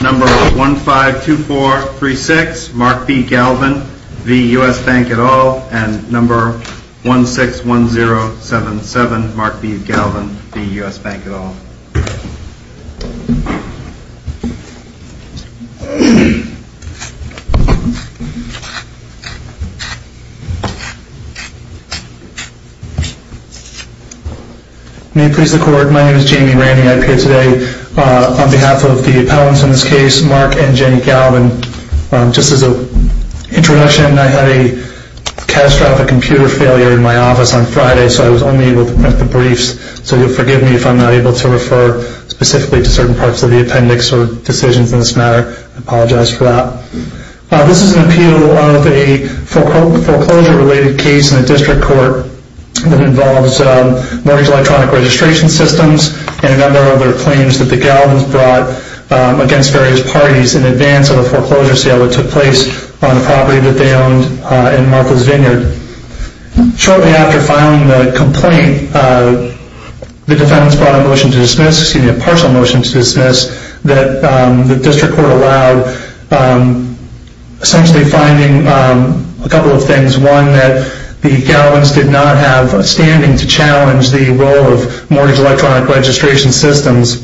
Number 152436, Mark B. Galvin, v. U.S. Bank et al., and number 161077, Mark B. Galvin, v. U.S. Bank et al. May it please the Court, my name is Jamie Ranney. I appear today on behalf of the appellants in this case, Mark and Jenny Galvin. Just as an introduction, I had a catastrophic computer failure in my office on Friday, so I was only able to print the briefs. So you'll forgive me if I'm not able to refer specifically to certain parts of the appendix or decisions in this matter. I apologize for that. This is an appeal of a foreclosure-related case in a district court that involves mortgage electronic registration systems and a number of other claims that the Galvins brought against various parties in advance of a foreclosure sale that took place on a property that they owned in Martha's Vineyard. Shortly after filing the complaint, the defendants brought a motion to dismiss, a partial motion to dismiss, that the district court allowed essentially finding a couple of things. One is that the Galvins did not have a standing to challenge the role of mortgage electronic registration systems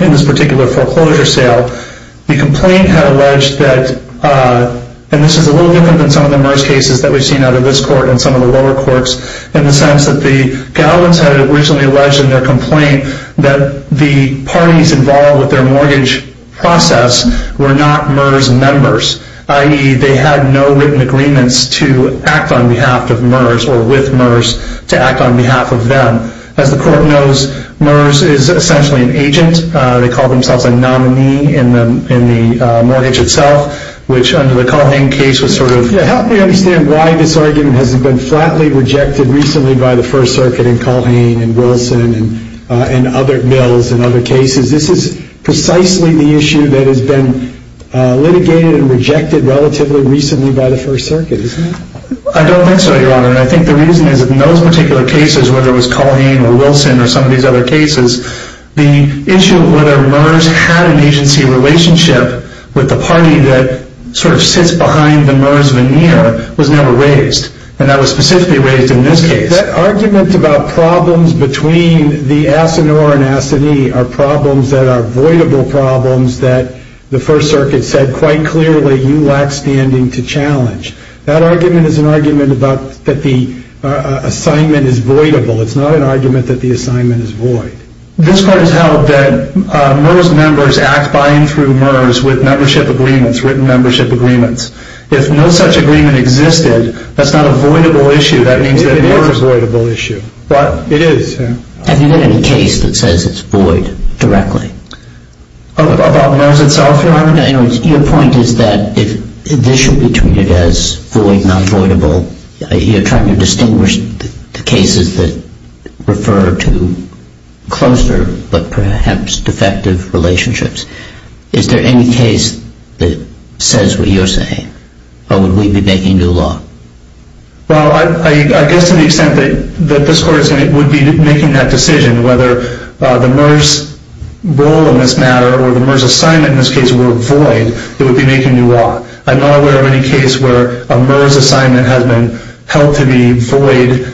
in this particular foreclosure sale. The complaint had alleged that, and this is a little different than some of the MERS cases that we've seen out of this court and some of the lower courts, in the sense that the Galvins had originally alleged in their complaint that the parties involved with their mortgage process were not MERS members, i.e. they had no written agreements to act on behalf of MERS or with MERS to act on behalf of them. As the court knows, MERS is essentially an agent. They call themselves a nominee in the mortgage itself, which under the Culhane case was sort of... Yeah, help me understand why this argument hasn't been flatly rejected recently by the First Circuit and Culhane and Wilson and other mills and other cases. This is precisely the issue that has been litigated and rejected relatively recently by the First Circuit, isn't it? I don't think so, Your Honor, and I think the reason is that in those particular cases, whether it was Culhane or Wilson or some of these other cases, the issue of whether MERS had an agency relationship with the party that sort of sits behind the MERS veneer was never raised. And that was specifically raised in this case. That argument about problems between the Asinor and Asinie are problems that are voidable problems that the First Circuit said quite clearly you lack standing to challenge. That argument is an argument that the assignment is voidable. It's not an argument that the assignment is void. This court has held that MERS members act by and through MERS with membership agreements, written membership agreements. If no such agreement existed, that's not a voidable issue. It is a voidable issue. It is. Have you had any case that says it's void directly? About MERS itself, Your Honor? Your point is that if this should be treated as void, not voidable, you're trying to distinguish the cases that refer to closer but perhaps defective relationships. Is there any case that says what you're saying? Or would we be making new law? Well, I guess to the extent that this court would be making that decision, whether the MERS role in this matter or the MERS assignment in this case were void, it would be making new law. I'm not aware of any case where a MERS assignment has been held to be void.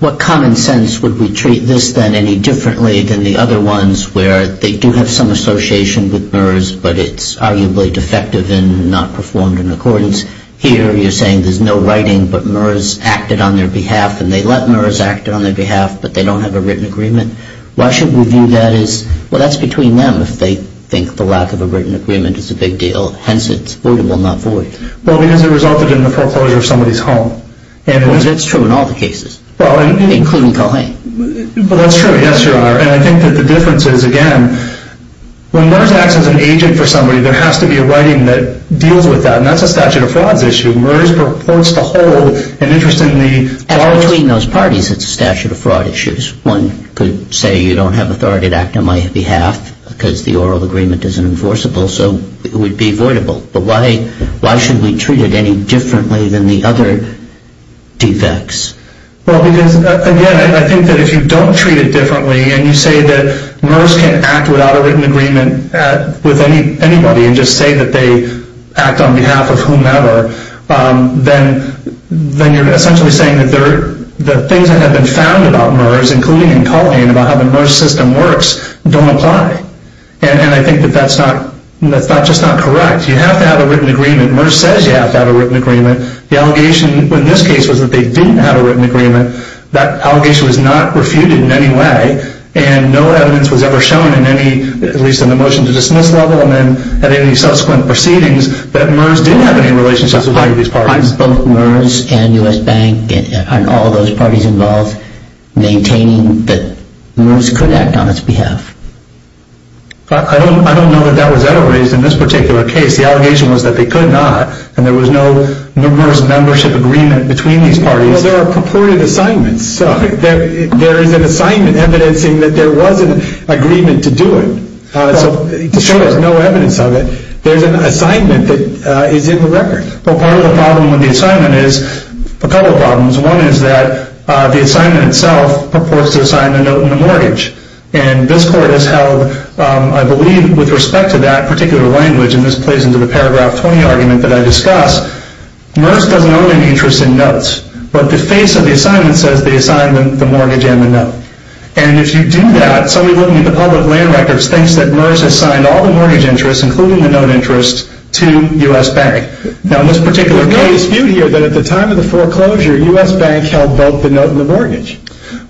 What common sense would we treat this then any differently than the other ones where they do have some association with MERS, but it's arguably defective and not performed in accordance? Here you're saying there's no writing, but MERS acted on their behalf, and they let MERS act on their behalf, but they don't have a written agreement. Why should we view that as, well, that's between them if they think the lack of a written agreement is a big deal. Hence, it's voidable, not void. Well, because it resulted in the foreclosure of somebody's home. That's true in all the cases, including Culhane. Well, that's true. Yes, Your Honor. And I think that the difference is, again, when MERS acts as an agent for somebody, there has to be a writing that deals with that, and that's a statute of frauds issue. MERS purports to hold an interest in the… At all between those parties, it's a statute of fraud issues. One could say you don't have authority to act on my behalf because the oral agreement isn't enforceable, so it would be voidable. But why should we treat it any differently than the other defects? Well, because, again, I think that if you don't treat it differently and you say that MERS can't act without a written agreement with anybody and just say that they act on behalf of whomever, then you're essentially saying that the things that have been found about MERS, including in Culhane, about how the MERS system works, don't apply. And I think that that's just not correct. You have to have a written agreement. MERS says you have to have a written agreement. The allegation in this case was that they didn't have a written agreement. That allegation was not refuted in any way, and no evidence was ever shown in any, at least in the motion to dismiss level, and then at any subsequent proceedings, that MERS did have any relationship with either of these parties. Both MERS and U.S. Bank and all those parties involved maintaining that MERS could act on its behalf. I don't know that that was ever raised in this particular case. The allegation was that they could not, and there was no MERS membership agreement between these parties. Well, there are purported assignments. There is an assignment evidencing that there was an agreement to do it. So there's no evidence of it. There's an assignment that is in the record. Well, part of the problem with the assignment is a couple of problems. One is that the assignment itself purports to assign the note and the mortgage, and this Court has held, I believe, with respect to that particular language, and this plays into the Paragraph 20 argument that I discussed, MERS doesn't owe any interest in notes, but the face of the assignment says they assigned the mortgage and the note. And if you do that, somebody looking at the public land records thinks that MERS assigned all the mortgage interest, including the note interest, to U.S. Bank. Now, in this particular case, there's a dispute here that at the time of the foreclosure, U.S. Bank held both the note and the mortgage.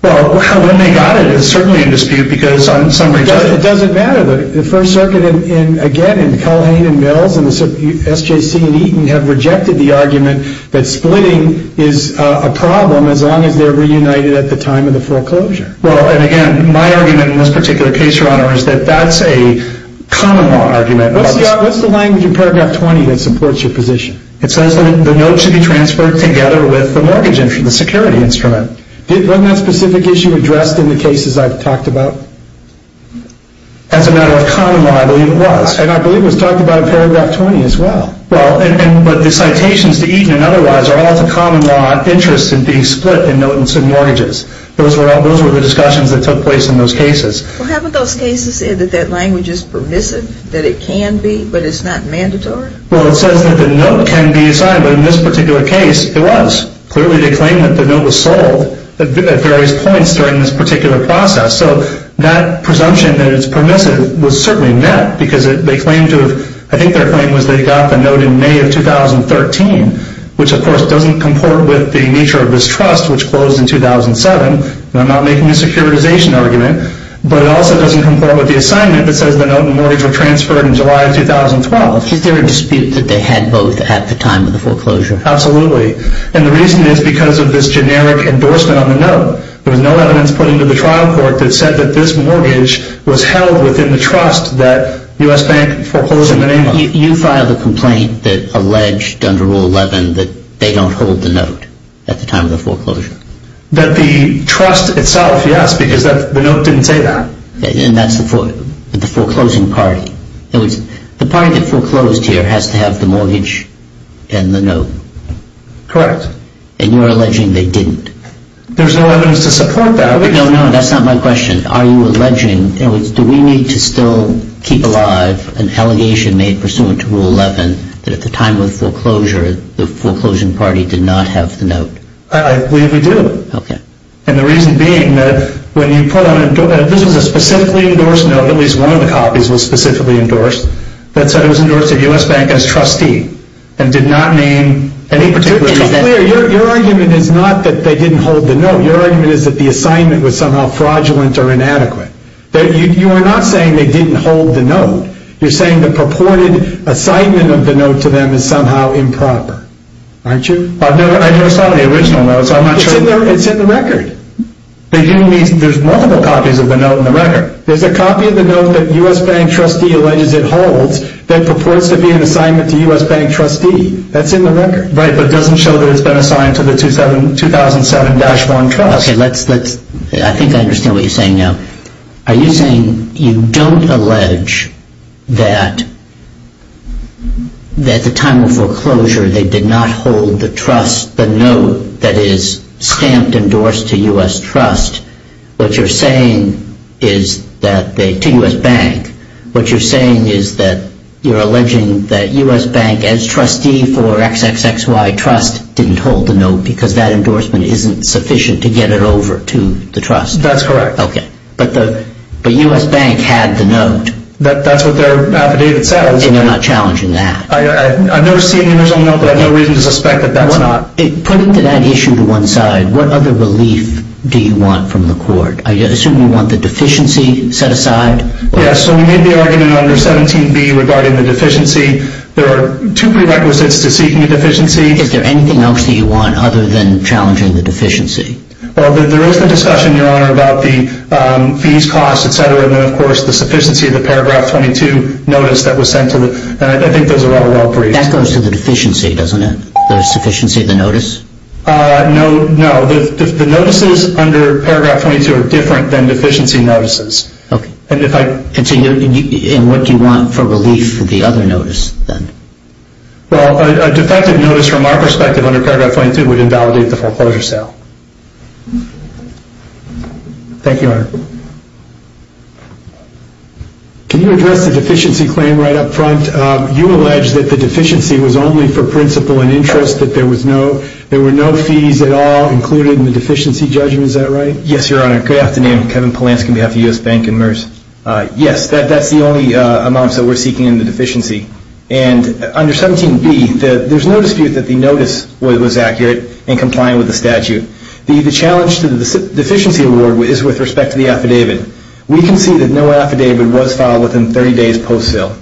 Well, when they got it, it's certainly a dispute because on some register. It doesn't matter. The First Circuit, again, and Culhane and Mills and SJC and Eaton have rejected the argument that splitting is a problem as long as they're reunited at the time of the foreclosure. Well, and again, my argument in this particular case, Your Honor, is that that's a common law argument. What's the language in Paragraph 20 that supports your position? It says that the note should be transferred together with the mortgage instrument, the security instrument. Wasn't that specific issue addressed in the cases I've talked about? As a matter of common law, I believe it was. And I believe it was talked about in Paragraph 20 as well. Well, but the citations to Eaton and otherwise are all to common law interest in being split in notes and mortgages. Those were the discussions that took place in those cases. Well, haven't those cases said that that language is permissive, that it can be, but it's not mandatory? Well, it says that the note can be assigned, but in this particular case, it was. Clearly, they claimed that the note was sold at various points during this particular process. So that presumption that it's permissive was certainly met because they claimed to have, I think their claim was they got the note in May of 2013, which, of course, doesn't comport with the nature of this trust, which closed in 2007. I'm not making a securitization argument. But it also doesn't comport with the assignment that says the note and mortgage were transferred in July of 2012. Is there a dispute that they had both at the time of the foreclosure? Absolutely. And the reason is because of this generic endorsement on the note. There was no evidence put into the trial court that said that this mortgage was held within the trust that U.S. Bank foreclosed in the name of. You filed a complaint that alleged under Rule 11 that they don't hold the note at the time of the foreclosure. That the trust itself, yes, because the note didn't say that. And that's the foreclosing party. In other words, the party that foreclosed here has to have the mortgage and the note. Correct. And you're alleging they didn't. There's no evidence to support that. No, no, that's not my question. Are you alleging, in other words, do we need to still keep alive an allegation made pursuant to Rule 11 that at the time of the foreclosure the foreclosing party did not have the note? I believe we do. Okay. And the reason being that when you put on a, this was a specifically endorsed note, at least one of the copies was specifically endorsed, that said it was endorsed at U.S. Bank as trustee and did not name any particular note. To be clear, your argument is not that they didn't hold the note. Your argument is that the assignment was somehow fraudulent or inadequate. You are not saying they didn't hold the note. You're saying the purported assignment of the note to them is somehow improper. Aren't you? I never saw the original note, so I'm not sure. It's in the record. There's multiple copies of the note in the record. There's a copy of the note that U.S. Bank trustee alleges it holds that purports to be an assignment to U.S. Bank trustee. That's in the record. Right, but it doesn't show that it's been assigned to the 2007-1 trust. Okay, let's, I think I understand what you're saying now. Are you saying you don't allege that at the time of foreclosure they did not hold the trust, the note that is stamped endorsed to U.S. trust? What you're saying is that, to U.S. Bank, what you're saying is that you're alleging that U.S. Bank, as trustee for XXXY Trust, didn't hold the note because that endorsement isn't sufficient to get it over to the trust. That's correct. Okay, but U.S. Bank had the note. That's what their affidavit says. And they're not challenging that. I've never seen the original note, but I have no reason to suspect that that's not. Putting that issue to one side, what other relief do you want from the court? I assume you want the deficiency set aside? Yes, so we made the argument under 17B regarding the deficiency. There are two prerequisites to seeking a deficiency. Is there anything else that you want other than challenging the deficiency? Well, there is the discussion, Your Honor, about the fees, costs, et cetera, and then, of course, the sufficiency of the paragraph 22 notice that was sent to the, and I think those are all well briefed. That goes to the deficiency, doesn't it? The sufficiency of the notice? No. The notices under paragraph 22 are different than deficiency notices. Okay. And what do you want for relief for the other notice then? Well, a defective notice from our perspective under paragraph 22 would invalidate the foreclosure sale. Thank you, Your Honor. Can you address the deficiency claim right up front? You allege that the deficiency was only for principle and interest, that there were no fees at all included in the deficiency judgment. Is that right? Yes, Your Honor. Good afternoon. Kevin Polanski on behalf of U.S. Bank and MERS. Yes, that's the only amounts that we're seeking in the deficiency. And under 17B, there's no dispute that the notice was accurate and compliant with the statute. The challenge to the deficiency award is with respect to the affidavit. We can see that no affidavit was filed within 30 days post-sale.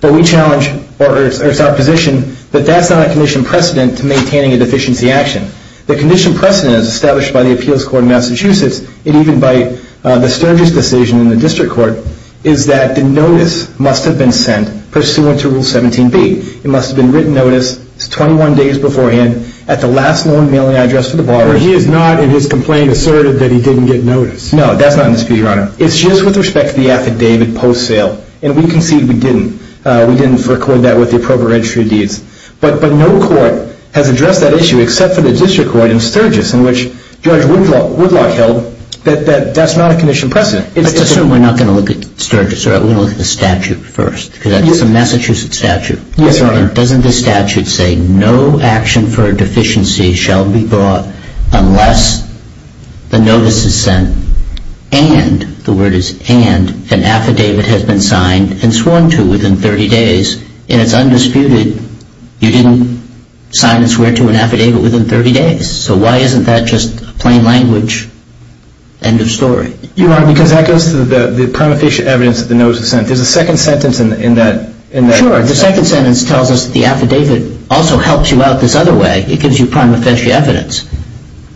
But we challenge or it's our position that that's not a condition precedent to maintaining a deficiency action. The condition precedent is established by the appeals court in Massachusetts and even by the Sturgis decision in the district court is that the notice must have been sent pursuant to Rule 17B. It must have been written notice 21 days beforehand at the last known mailing address to the borrower. But he is not in his complaint asserted that he didn't get notice. No, that's not in dispute, Your Honor. It's just with respect to the affidavit post-sale. And we concede we didn't. We didn't record that with the appropriate registry of deeds. But no court has addressed that issue except for the district court in Sturgis in which Judge Woodlock held that that's not a condition precedent. Let's just assume we're not going to look at Sturgis. We're going to look at the statute first because that's a Massachusetts statute. Yes, Your Honor. Your Honor, doesn't the statute say no action for a deficiency shall be brought unless the notice is sent and, the word is and, an affidavit has been signed and sworn to within 30 days. And it's undisputed you didn't sign and swear to an affidavit within 30 days. So why isn't that just plain language? End of story. Your Honor, because that goes to the prima facie evidence that the notice was sent. There's a second sentence in that. Sure, the second sentence tells us the affidavit also helps you out this other way. It gives you prima facie evidence.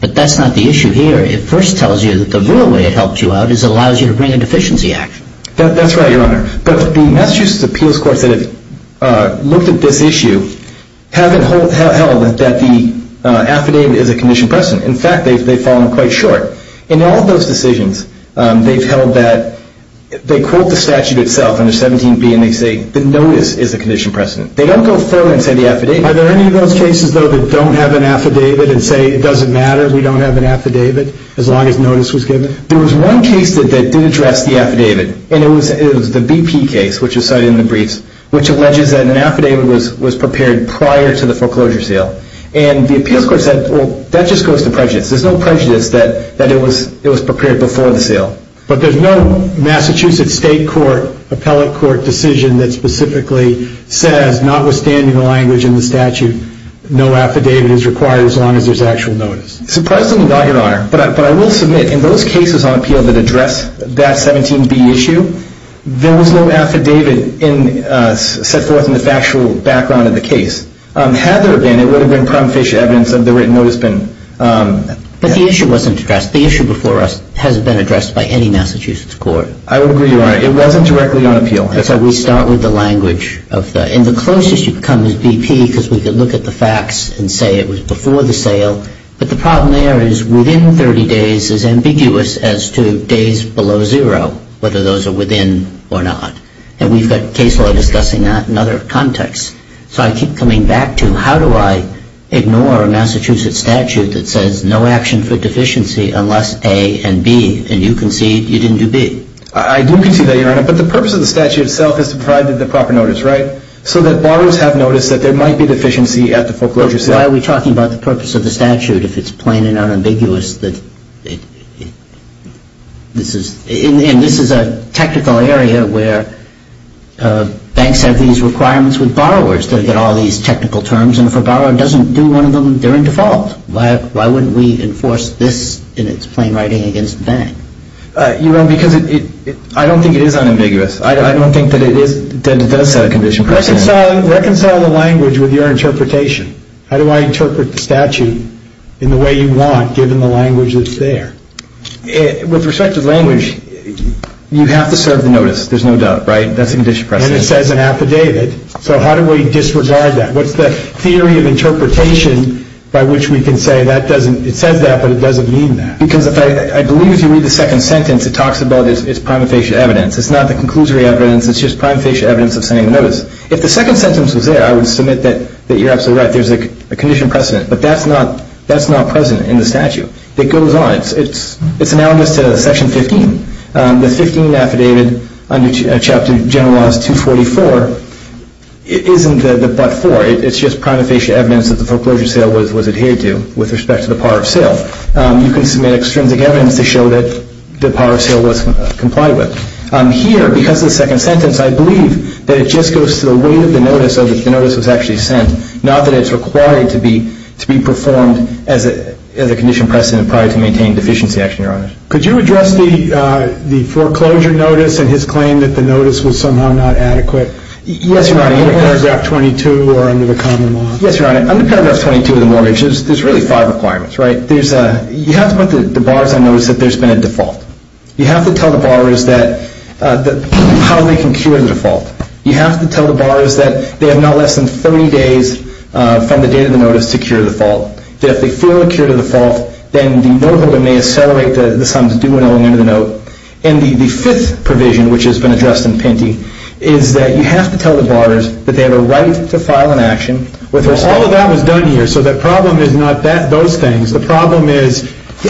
But that's not the issue here. It first tells you that the real way it helps you out is it allows you to bring a deficiency action. That's right, Your Honor. But the Massachusetts appeals courts that have looked at this issue haven't held that the affidavit is a condition precedent. In fact, they've fallen quite short. In all of those decisions, they've held that, they quote the statute itself under 17B, and they say the notice is a condition precedent. They don't go further and say the affidavit. Are there any of those cases, though, that don't have an affidavit and say it doesn't matter, we don't have an affidavit as long as notice was given? There was one case that did address the affidavit, and it was the BP case, which was cited in the briefs, which alleges that an affidavit was prepared prior to the foreclosure sale. And the appeals court said, well, that just goes to prejudice. There's no prejudice that it was prepared before the sale. But there's no Massachusetts state court, appellate court decision that specifically says, notwithstanding the language in the statute, no affidavit is required as long as there's actual notice. Surprisingly right, Your Honor. But I will submit in those cases on appeal that address that 17B issue, there was no affidavit set forth in the factual background of the case. Had there been, it would have been prompt facial evidence of the written notice been. But the issue wasn't addressed. The issue before us hasn't been addressed by any Massachusetts court. I would agree, Your Honor. It wasn't directly on appeal. That's how we start with the language. And the closest you come is BP, because we could look at the facts and say it was before the sale. But the problem there is within 30 days is ambiguous as to days below zero, whether those are within or not. And we've got case law discussing that in other contexts. So I keep coming back to how do I ignore a Massachusetts statute that says, no action for deficiency unless A and B. And you concede you didn't do B. I do concede that, Your Honor. But the purpose of the statute itself is to provide the proper notice, right? So that borrowers have notice that there might be deficiency at the foreclosure sale. But why are we talking about the purpose of the statute if it's plain and unambiguous that this is, and this is a technical area where banks have these requirements with borrowers to get all these technical terms. And if a borrower doesn't do one of them, they're in default. Why wouldn't we enforce this in its plain writing against the bank? Your Honor, because I don't think it is unambiguous. I don't think that it does set a condition. Reconcile the language with your interpretation. How do I interpret the statute in the way you want given the language that's there? With respect to the language, you have to serve the notice. There's no doubt, right? That's a condition precedent. And it says in affidavit. So how do we disregard that? What's the theory of interpretation by which we can say that doesn't, it says that, but it doesn't mean that? Because I believe if you read the second sentence, it talks about its prima facie evidence. It's not the conclusory evidence. It's just prima facie evidence of sending the notice. If the second sentence was there, I would submit that you're absolutely right. There's a condition precedent. But that's not present in the statute. It goes on. It's analogous to Section 15. The 15 affidavit under Chapter General Laws 244 isn't the but-for. It's just prima facie evidence that the foreclosure sale was adhered to with respect to the power of sale. You can submit extrinsic evidence to show that the power of sale was complied with. Here, because of the second sentence, I believe that it just goes to the weight of the notice, so that the notice was actually sent, not that it's required to be performed as a condition precedent prior to maintaining deficiency action, Your Honor. Could you address the foreclosure notice and his claim that the notice was somehow not adequate? Yes, Your Honor. Under Paragraph 22 or under the common law. Yes, Your Honor. Under Paragraph 22 of the mortgage, there's really five requirements, right? You have to put the bars on notice that there's been a default. You have to tell the borrowers how they can cure the default. You have to tell the borrowers that they have now less than 30 days from the date of the notice to cure the default. That if they feel a cure to the default, then the noteholder may accelerate the sum to $2,000 under the note. And the fifth provision, which has been addressed in Pinty, is that you have to tell the borrowers that they have a right to file an action with respect to the default. All of that was done here, so the problem is not those things. The problem is,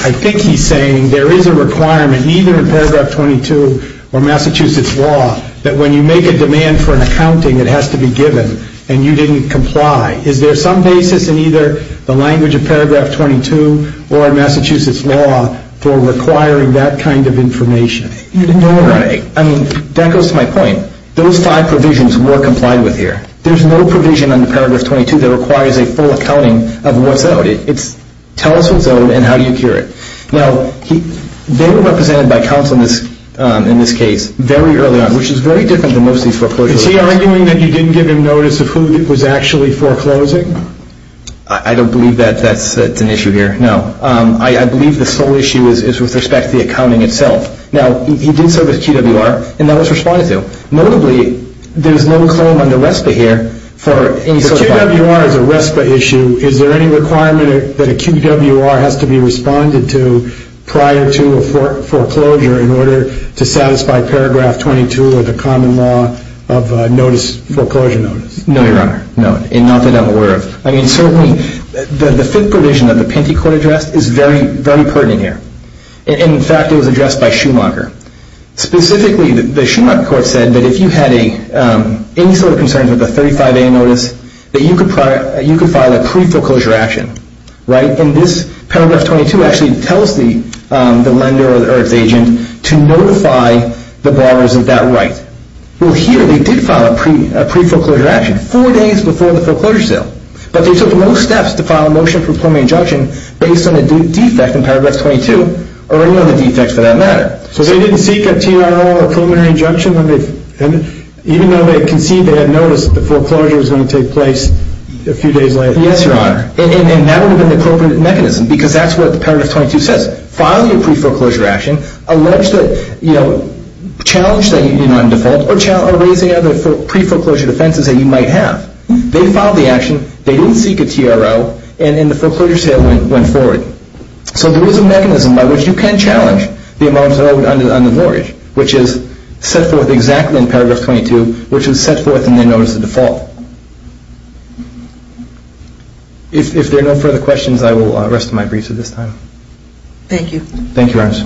I think he's saying there is a requirement, either in Paragraph 22 or Massachusetts law, that when you make a demand for an accounting, it has to be given, and you didn't comply. Is there some basis in either the language of Paragraph 22 or in Massachusetts law for requiring that kind of information? No, Your Honor. I mean, that goes to my point. Those five provisions were complied with here. There's no provision under Paragraph 22 that requires a full accounting of what's owed. It's tell us what's owed and how do you cure it. Now, they were represented by counsel in this case very early on, which is very different than most of these foreclosures. Is he arguing that you didn't give him notice of who was actually foreclosing? I don't believe that's an issue here, no. I believe the sole issue is with respect to the accounting itself. Now, he did serve as QWR, and that was responded to. Notably, there's no claim under RESPA here for any sort of filing. Now, QWR is a RESPA issue. Is there any requirement that a QWR has to be responded to prior to a foreclosure in order to satisfy Paragraph 22 or the common law of notice foreclosure notice? No, Your Honor, no, and not that I'm aware of. I mean, certainly the fifth provision that the Pentecourt addressed is very pertinent here. In fact, it was addressed by Schumacher. Specifically, the Schumacher court said that if you had any sort of concerns with a 35A notice, that you could file a pre-foreclosure action, right? And this Paragraph 22 actually tells the lender or its agent to notify the borrowers of that right. Well, here they did file a pre-foreclosure action four days before the foreclosure sale, but they took no steps to file a motion for preliminary injunction based on a defect in Paragraph 22 or any other defects for that matter. So they didn't seek a TRO, a preliminary injunction, even though they conceded they had noticed that the foreclosure was going to take place a few days later? Yes, Your Honor, and that would have been the appropriate mechanism because that's what the Paragraph 22 says. Filing a pre-foreclosure action alleged that, you know, challenge that you did not default or raising other pre-foreclosure offenses that you might have. They filed the action, they didn't seek a TRO, and then the foreclosure sale went forward. So there is a mechanism by which you can challenge the amount owed under mortgage, which is set forth exactly in Paragraph 22, which is set forth in their notice of default. If there are no further questions, I will rest my briefs at this time. Thank you, Your Honors.